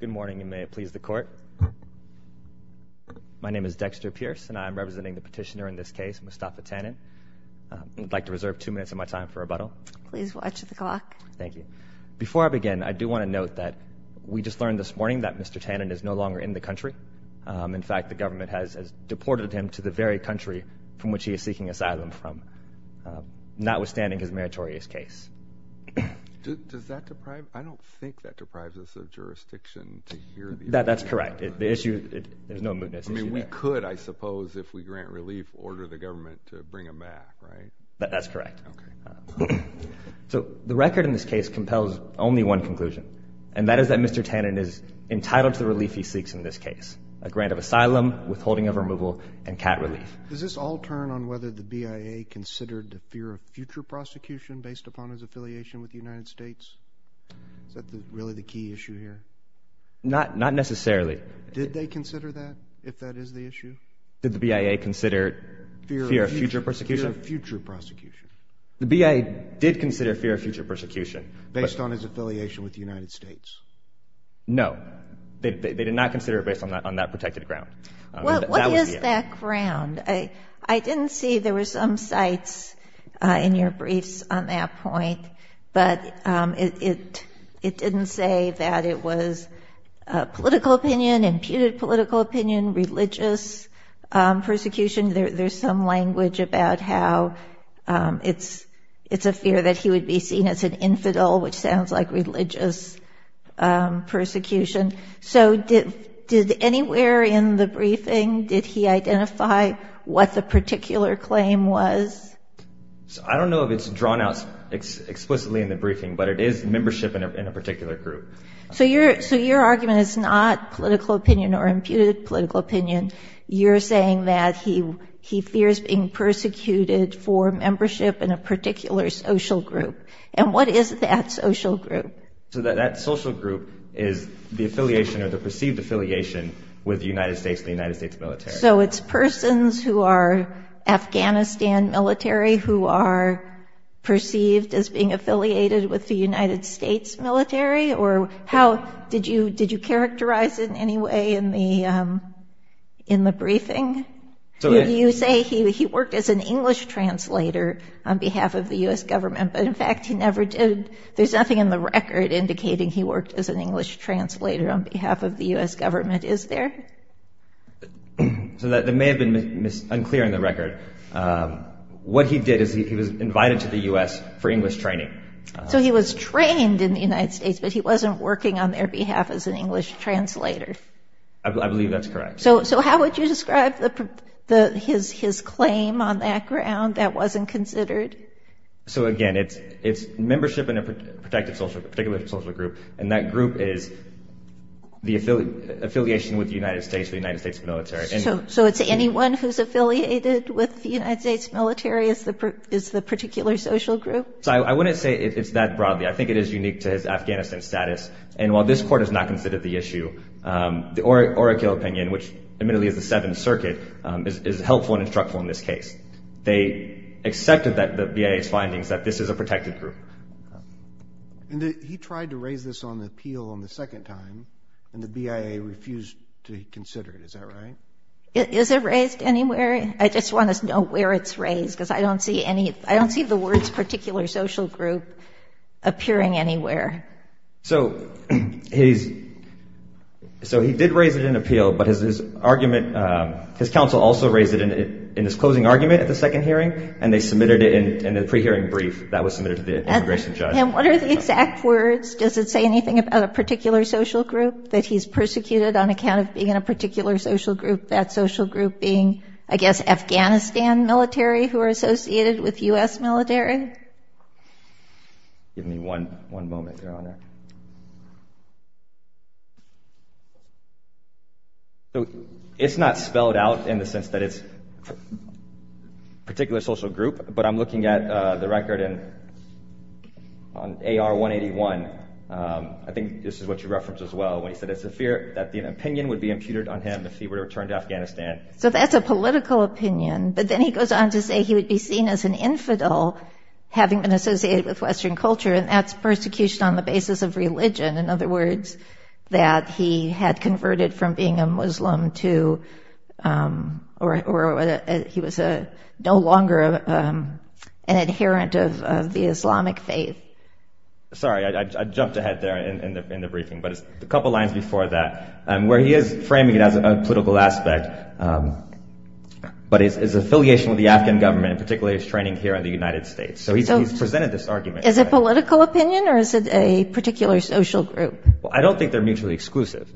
Good morning, and may it please the Court. My name is Dexter Pierce, and I am representing the petitioner in this case, Mustafa Tanin. I'd like to reserve two minutes of my time for rebuttal. Please watch the clock. Thank you. Before I begin, I do want to note that we just learned this morning that Mr. Tanin is no longer in the country. In fact, the government has deported him to the very country from which he is seeking asylum from, notwithstanding his meritorious case. Does that deprive—I don't think that deprives us of jurisdiction to hear the issue. That's correct. The issue—there's no mootness issue there. I mean, we could, I suppose, if we grant relief, order the government to bring him back, right? That's correct. Okay. So, the record in this case compels only one conclusion, and that is that Mr. Tanin is entitled to the relief he seeks in this case—a grant of asylum, withholding of removal, and cat relief. Does this all turn on whether the BIA considered the fear of future prosecution based upon his affiliation with the United States? Is that really the key issue here? Not necessarily. Did they consider that, if that is the issue? Did the BIA consider fear of future prosecution? Fear of future prosecution. The BIA did consider fear of future prosecution. Based on his affiliation with the United States. No. They did not consider it based on that protected ground. What is that ground? I didn't see—there were some sites in your briefs on that point, but it didn't say that it was political opinion, imputed political opinion, religious persecution. There's some language about how it's a fear that he would be seen as an infidel, which sounds like religious persecution. So did anywhere in the briefing, did he identify what the particular claim was? I don't know if it's drawn out explicitly in the briefing, but it is membership in a particular group. So your argument is not political opinion or imputed political opinion. You're saying that he fears being persecuted for membership in a particular social group. And what is that social group? So that social group is the affiliation or the perceived affiliation with the United States and the United States military. So it's persons who are Afghanistan military who are perceived as being affiliated with the United States military? Did you characterize it in any way in the briefing? You say he worked as an English translator on behalf of the U.S. government, but in fact he never did. There's nothing in the record indicating he worked as an English translator on behalf of the U.S. government, is there? So that may have been unclear in the record. What he did is he was invited to the U.S. for English training. So he was trained in the United States, but he wasn't working on their behalf as an English translator. I believe that's correct. So how would you describe his claim on that ground that wasn't considered? So again, it's membership in a particular social group, and that group is the affiliation with the United States or the United States military. So it's anyone who's affiliated with the United States military is the particular social group? I wouldn't say it's that broadly. I think it is unique to his Afghanistan status. And while this court has not considered the issue, the oracle opinion, which admittedly is the Seventh Circuit, is helpful and instructful in this case. They accepted the BIA's findings that this is a protected group. And he tried to raise this on the appeal on the second time, and the BIA refused to consider it. Is that right? Is it raised anywhere? I just want to know where it's raised because I don't see the words particular social group appearing anywhere. So he did raise it in appeal, but his counsel also raised it in his closing argument at the second hearing, and they submitted it in a pre-hearing brief that was submitted to the immigration judge. And what are the exact words? Does it say anything about a particular social group that he's persecuted on account of being in a particular social group, that social group being, I guess, Afghanistan military who are associated with U.S. military? Give me one moment, Your Honor. So it's not spelled out in the sense that it's particular social group, but I'm looking at the record on AR-181. I think this is what you referenced as well when you said it's a fear that the opinion would be imputed on him if he were to return to Afghanistan. So that's a political opinion, but then he goes on to say he would be seen as an infidel having been associated with Western culture, and that's persecution on the basis of religion. In other words, that he had converted from being a Muslim to, or he was no longer an adherent of the Islamic faith. Sorry, I jumped ahead there in the briefing, but it's a couple lines before that. Where he is framing it as a political aspect, but his affiliation with the Afghan government, particularly his training here in the United States. So he's presented this argument. Is it political opinion, or is it a particular social group? I don't think they're mutually exclusive.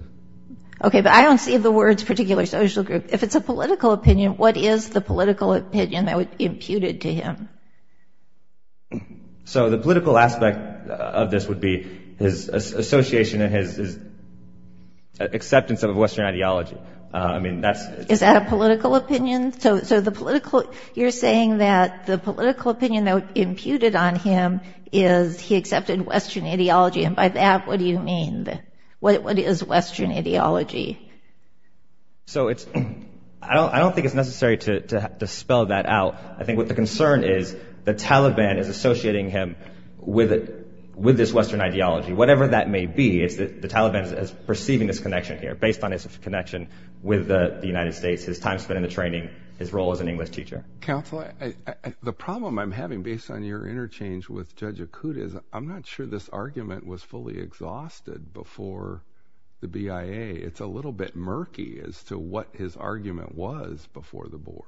Okay, but I don't see the words particular social group. If it's a political opinion, what is the political opinion that would be imputed to him? So the political aspect of this would be his association and his acceptance of Western ideology. Is that a political opinion? So you're saying that the political opinion that would be imputed on him is he accepted Western ideology, and by that, what do you mean? What is Western ideology? So I don't think it's necessary to spell that out. I think what the concern is the Taliban is associating him with this Western ideology. Whatever that may be, it's that the Taliban is perceiving this connection here based on his connection with the United States, his time spent in the training, his role as an English teacher. Counselor, the problem I'm having based on your interchange with Judge Akut is I'm not sure this argument was fully exhausted before the BIA. It's a little bit murky as to what his argument was before the board.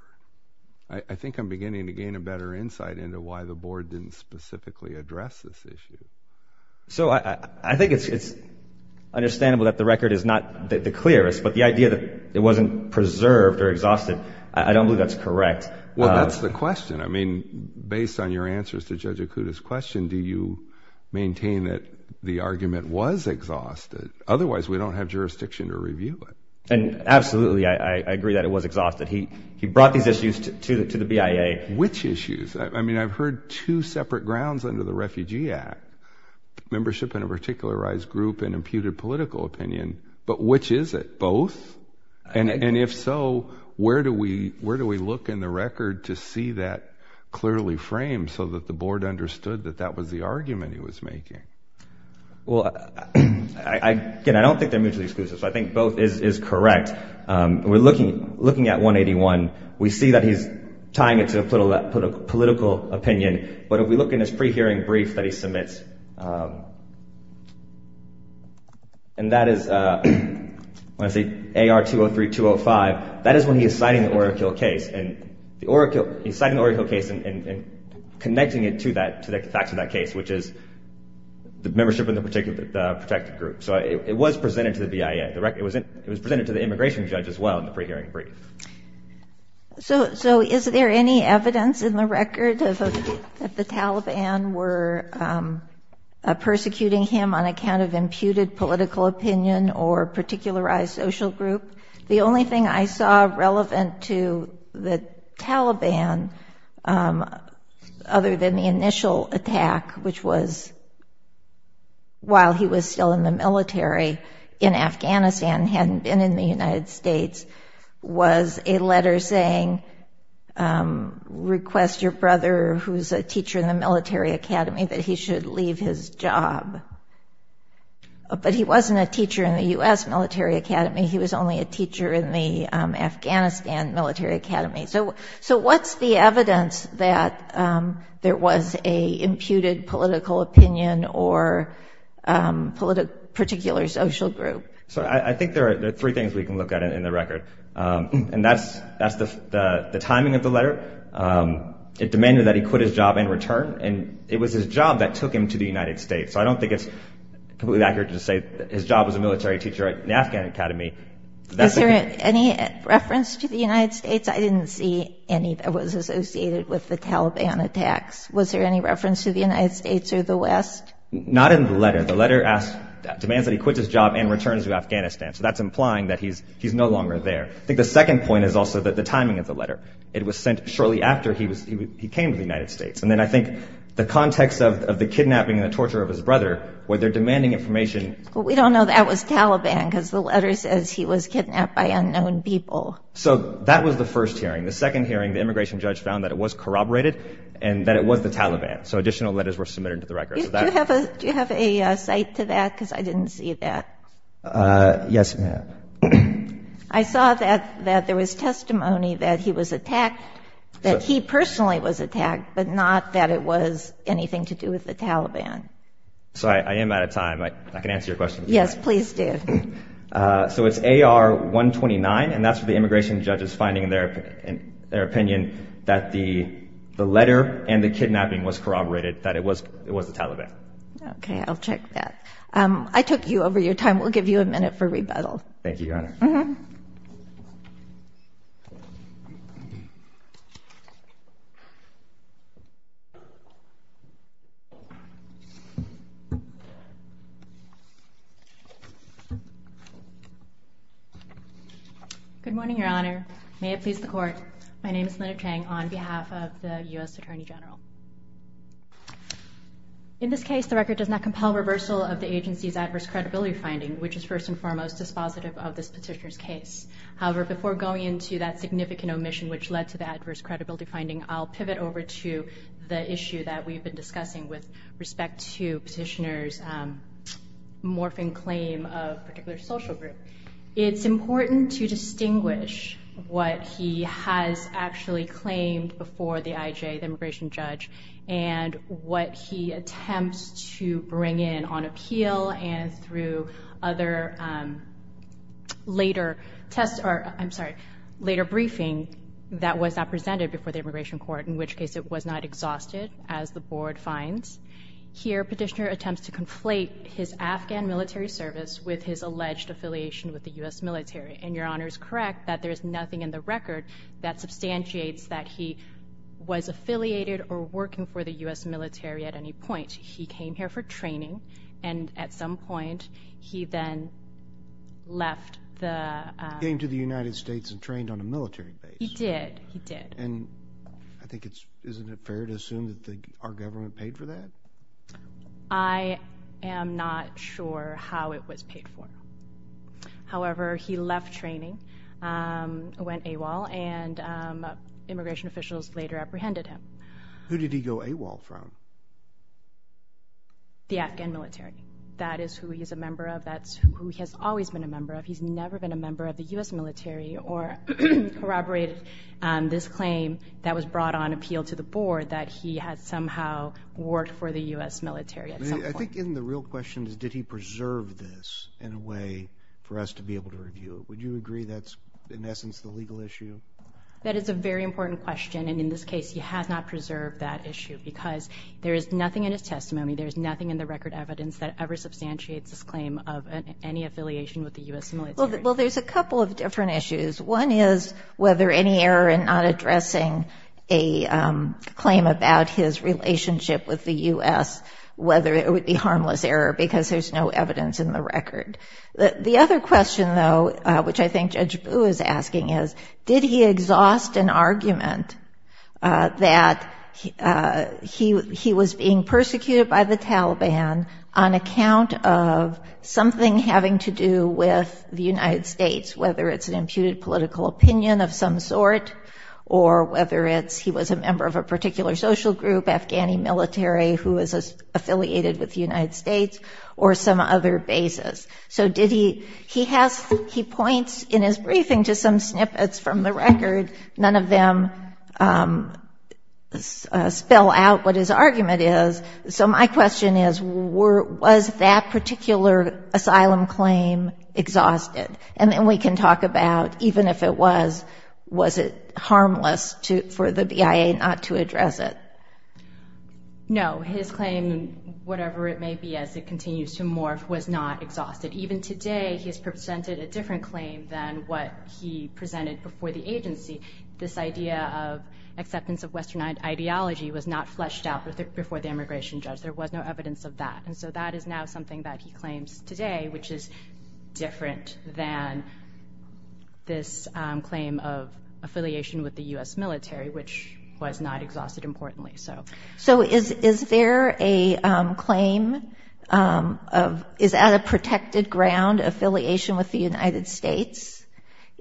I think I'm beginning to gain a better insight into why the board didn't specifically address this issue. So I think it's understandable that the record is not the clearest, but the idea that it wasn't preserved or exhausted, I don't believe that's correct. Well, that's the question. I mean, based on your answers to Judge Akut's question, do you maintain that the argument was exhausted? Otherwise, we don't have jurisdiction to review it. Absolutely, I agree that it was exhausted. He brought these issues to the BIA. Which issues? I mean, I've heard two separate grounds under the Refugee Act, membership in a particularized group and imputed political opinion, but which is it? Both? And if so, where do we look in the record to see that clearly framed so that the board understood that that was the argument he was making? Well, again, I don't think they're mutually exclusive, so I think both is correct. We're looking at 181. We see that he's tying it to a political opinion, but if we look in his pre-hearing brief that he submits, and that is AR-203-205, that is when he is citing the Oracle case and connecting it to the facts of that case, which is the membership in the protected group. So it was presented to the BIA. It was presented to the immigration judge as well in the pre-hearing brief. So is there any evidence in the record that the Taliban were persecuting him on account of imputed political opinion or particularized social group? The only thing I saw relevant to the Taliban, other than the initial attack, which was while he was still in the military in Afghanistan, hadn't been in the United States, was a letter saying, request your brother who's a teacher in the military academy that he should leave his job. But he wasn't a teacher in the U.S. military academy. He was only a teacher in the Afghanistan military academy. So what's the evidence that there was an imputed political opinion or particular social group? So I think there are three things we can look at in the record. And that's the timing of the letter. It demanded that he quit his job and return. And it was his job that took him to the United States. So I don't think it's completely accurate to say his job was a military teacher in the Afghan academy. Is there any reference to the United States? I didn't see any that was associated with the Taliban attacks. Was there any reference to the United States or the West? Not in the letter. The letter demands that he quit his job and return to Afghanistan. So that's implying that he's no longer there. I think the second point is also the timing of the letter. It was sent shortly after he came to the United States. And then I think the context of the kidnapping and the torture of his brother, where they're demanding information. Well, we don't know that was Taliban because the letter says he was kidnapped by unknown people. So that was the first hearing. The second hearing, the immigration judge found that it was corroborated and that it was the Taliban. So additional letters were submitted to the record. Do you have a cite to that? Because I didn't see that. Yes, ma'am. I saw that there was testimony that he was attacked, that he personally was attacked, but not that it was anything to do with the Taliban. Sorry, I am out of time. I can answer your question. Yes, please do. So it's AR-129, and that's where the immigration judge is finding their opinion that the letter and the kidnapping was corroborated, that it was the Taliban. Okay, I'll check that. I took you over your time. Thank you, Your Honor. Thank you, Your Honor. Good morning, Your Honor. May it please the Court. My name is Linda Chang on behalf of the U.S. Attorney General. In this case, the record does not compel reversal of the agency's adverse credibility finding, which is first and foremost dispositive of this petitioner's case. However, before going into that significant omission, which led to the adverse credibility finding, I'll pivot over to the issue that we've been discussing with respect to petitioner's morphine claim of a particular social group. It's important to distinguish what he has actually claimed before the IJ, the immigration judge, and what he attempts to bring in on appeal and through other later briefings that was not presented before the immigration court, in which case it was not exhausted, as the Board finds. Here, petitioner attempts to conflate his Afghan military service with his alleged affiliation with the U.S. military, and Your Honor is correct that there is nothing in the record that substantiates that he was affiliated or working for the U.S. military at any point. He came here for training, and at some point, he then left the— He came to the United States and trained on a military base. He did. He did. And I think it's—isn't it fair to assume that our government paid for that? I am not sure how it was paid for. However, he left training, went AWOL, and immigration officials later apprehended him. Who did he go AWOL from? The Afghan military. That is who he is a member of. That's who he has always been a member of. He's never been a member of the U.S. military or corroborated this claim that was brought on appeal to the Board that he had somehow worked for the U.S. military at some point. I think the real question is, did he preserve this in a way for us to be able to review it? Would you agree that's, in essence, the legal issue? That is a very important question, and in this case, he has not preserved that issue because there is nothing in his testimony, there is nothing in the record evidence that ever substantiates his claim of any affiliation with the U.S. military. Well, there's a couple of different issues. One is whether any error in not addressing a claim about his relationship with the U.S., whether it would be harmless error because there's no evidence in the record. The other question, though, which I think Judge Boo is asking is, did he exhaust an argument that he was being persecuted by the Taliban on account of something having to do with the United States, whether it's an imputed political opinion of some sort, or whether he was a member of a particular social group, Afghani military, who is affiliated with the United States, or some other basis. So he points in his briefing to some snippets from the record. None of them spell out what his argument is. So my question is, was that particular asylum claim exhausted? And then we can talk about, even if it was, was it harmless for the BIA not to address it? No, his claim, whatever it may be as it continues to morph, was not exhausted. Even today he has presented a different claim than what he presented before the agency. This idea of acceptance of Western ideology was not fleshed out before the immigration judge. There was no evidence of that. And so that is now something that he claims today, which is different than this claim of affiliation with the U.S. military, which was not exhausted, importantly. So is there a claim of, is that a protected ground, affiliation with the United States?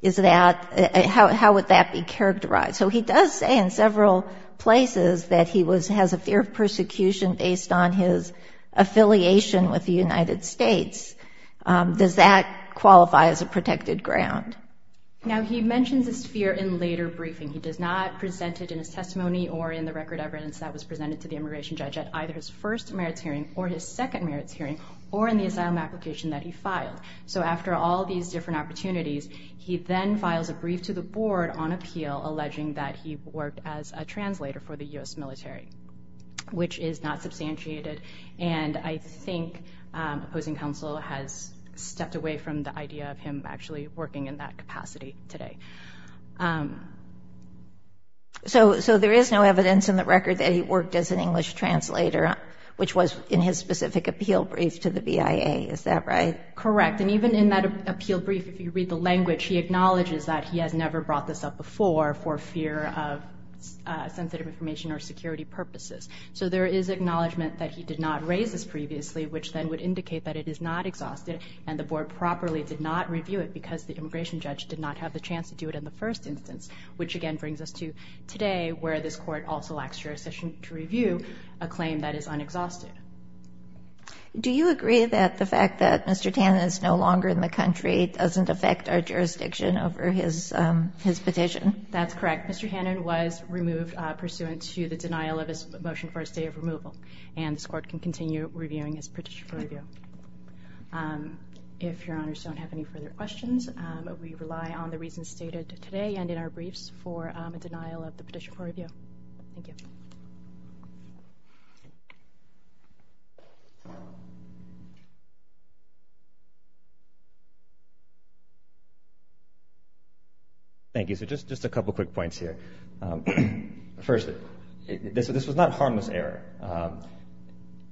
How would that be characterized? So he does say in several places that he has a fear of persecution based on his affiliation with the United States. Does that qualify as a protected ground? Now he mentions this fear in later briefing. He does not present it in his testimony or in the record of evidence that was presented to the immigration judge at either his first merits hearing or his second merits hearing or in the asylum application that he filed. So after all these different opportunities, he then files a brief to the board on appeal alleging that he worked as a translator for the U.S. military, which is not substantiated. And I think opposing counsel has stepped away from the idea of him actually working in that capacity today. So there is no evidence in the record that he worked as an English translator, which was in his specific appeal brief to the BIA, is that right? Correct. And even in that appeal brief, if you read the language, he acknowledges that he has never brought this up before for fear of sensitive information or security purposes. So there is acknowledgment that he did not raise this previously, which then would indicate that it is not exhausted and the board properly did not review it because the immigration judge did not have the chance to do it in the first instance, which again brings us to today where this court also lacks jurisdiction to review a claim that is unexhausted. Do you agree that the fact that Mr. Tannen is no longer in the country doesn't affect our jurisdiction over his petition? That's correct. Mr. Tannen was removed pursuant to the denial of his motion for a stay of removal, and this court can continue reviewing his petition for review. If Your Honors don't have any further questions, we rely on the reasons stated today and in our briefs for a denial of the petition for review. Thank you. Thank you. So just a couple quick points here. First, this was not harmless error.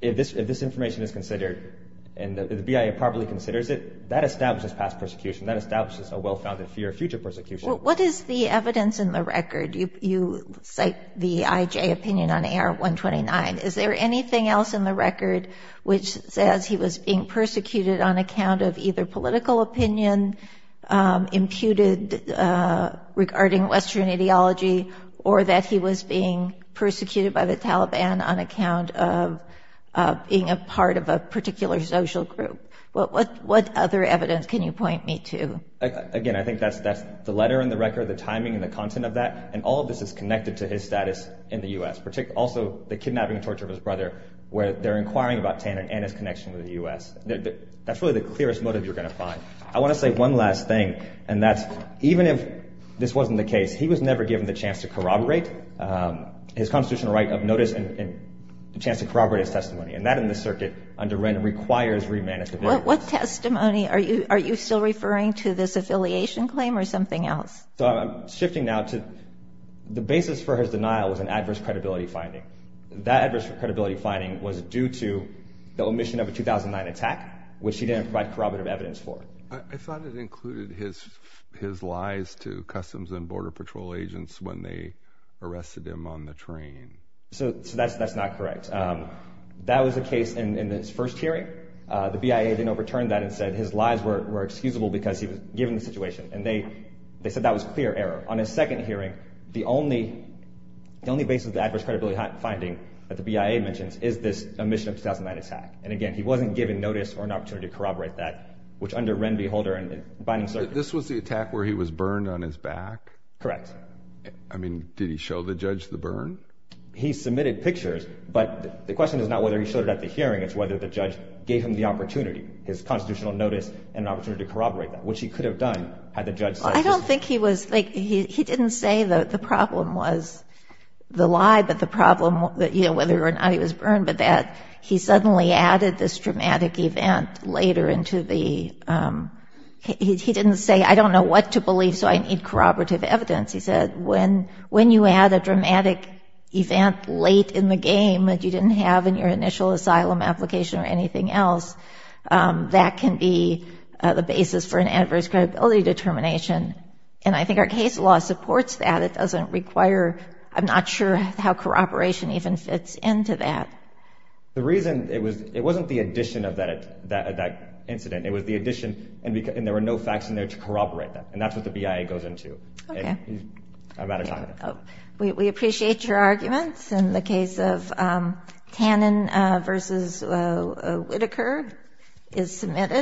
If this information is considered and the BIA properly considers it, that establishes past persecution. That establishes a well-founded fear of future persecution. What is the evidence in the record? You cite the IJ opinion on AR-129. Is there anything else in the record which says he was being persecuted on account of either political opinion imputed regarding Western ideology or that he was being persecuted by the Taliban on account of being a part of a particular social group? What other evidence can you point me to? Again, I think that's the letter in the record, the timing, the content of that, and all of this is connected to his status in the U.S., also the kidnapping and torture of his brother, where they're inquiring about Tannin and his connection with the U.S. That's really the clearest motive you're going to find. I want to say one last thing, and that's even if this wasn't the case, he was never given the chance to corroborate his constitutional right of notice and the chance to corroborate his testimony, and that in this circuit under Wren requires remanifestation. What testimony? Are you still referring to this affiliation claim or something else? I'm shifting now to the basis for his denial was an adverse credibility finding. That adverse credibility finding was due to the omission of a 2009 attack, which he didn't provide corroborative evidence for. I thought it included his lies to Customs and Border Patrol agents when they arrested him on the train. That's not correct. That was the case in his first hearing. The BIA then overturned that and said his lies were excusable because he was given the situation, and they said that was clear error. On his second hearing, the only basis of the adverse credibility finding that the BIA mentions is this omission of 2009 attack, and, again, he wasn't given notice or an opportunity to corroborate that, which under Wren v. Holder and the binding circuit. This was the attack where he was burned on his back? Correct. I mean, did he show the judge the burn? He submitted pictures, but the question is not whether he showed it at the hearing. It's whether the judge gave him the opportunity, his constitutional notice and an opportunity to corroborate that, which he could have done had the judge said just that. I don't think he was – he didn't say the problem was the lie, but the problem, whether or not he was burned, but that he suddenly added this dramatic event later into the – he didn't say, I don't know what to believe, so I need corroborative evidence. He said, when you add a dramatic event late in the game that you didn't have in your initial asylum application or anything else, that can be the basis for an adverse credibility determination, and I think our case law supports that. It doesn't require – I'm not sure how corroboration even fits into that. The reason it was – it wasn't the addition of that incident. It was the addition, and there were no facts in there to corroborate that, and that's what the BIA goes into. Okay. I'm out of time. We appreciate your arguments. And the case of Tannen v. Whitaker is submitted.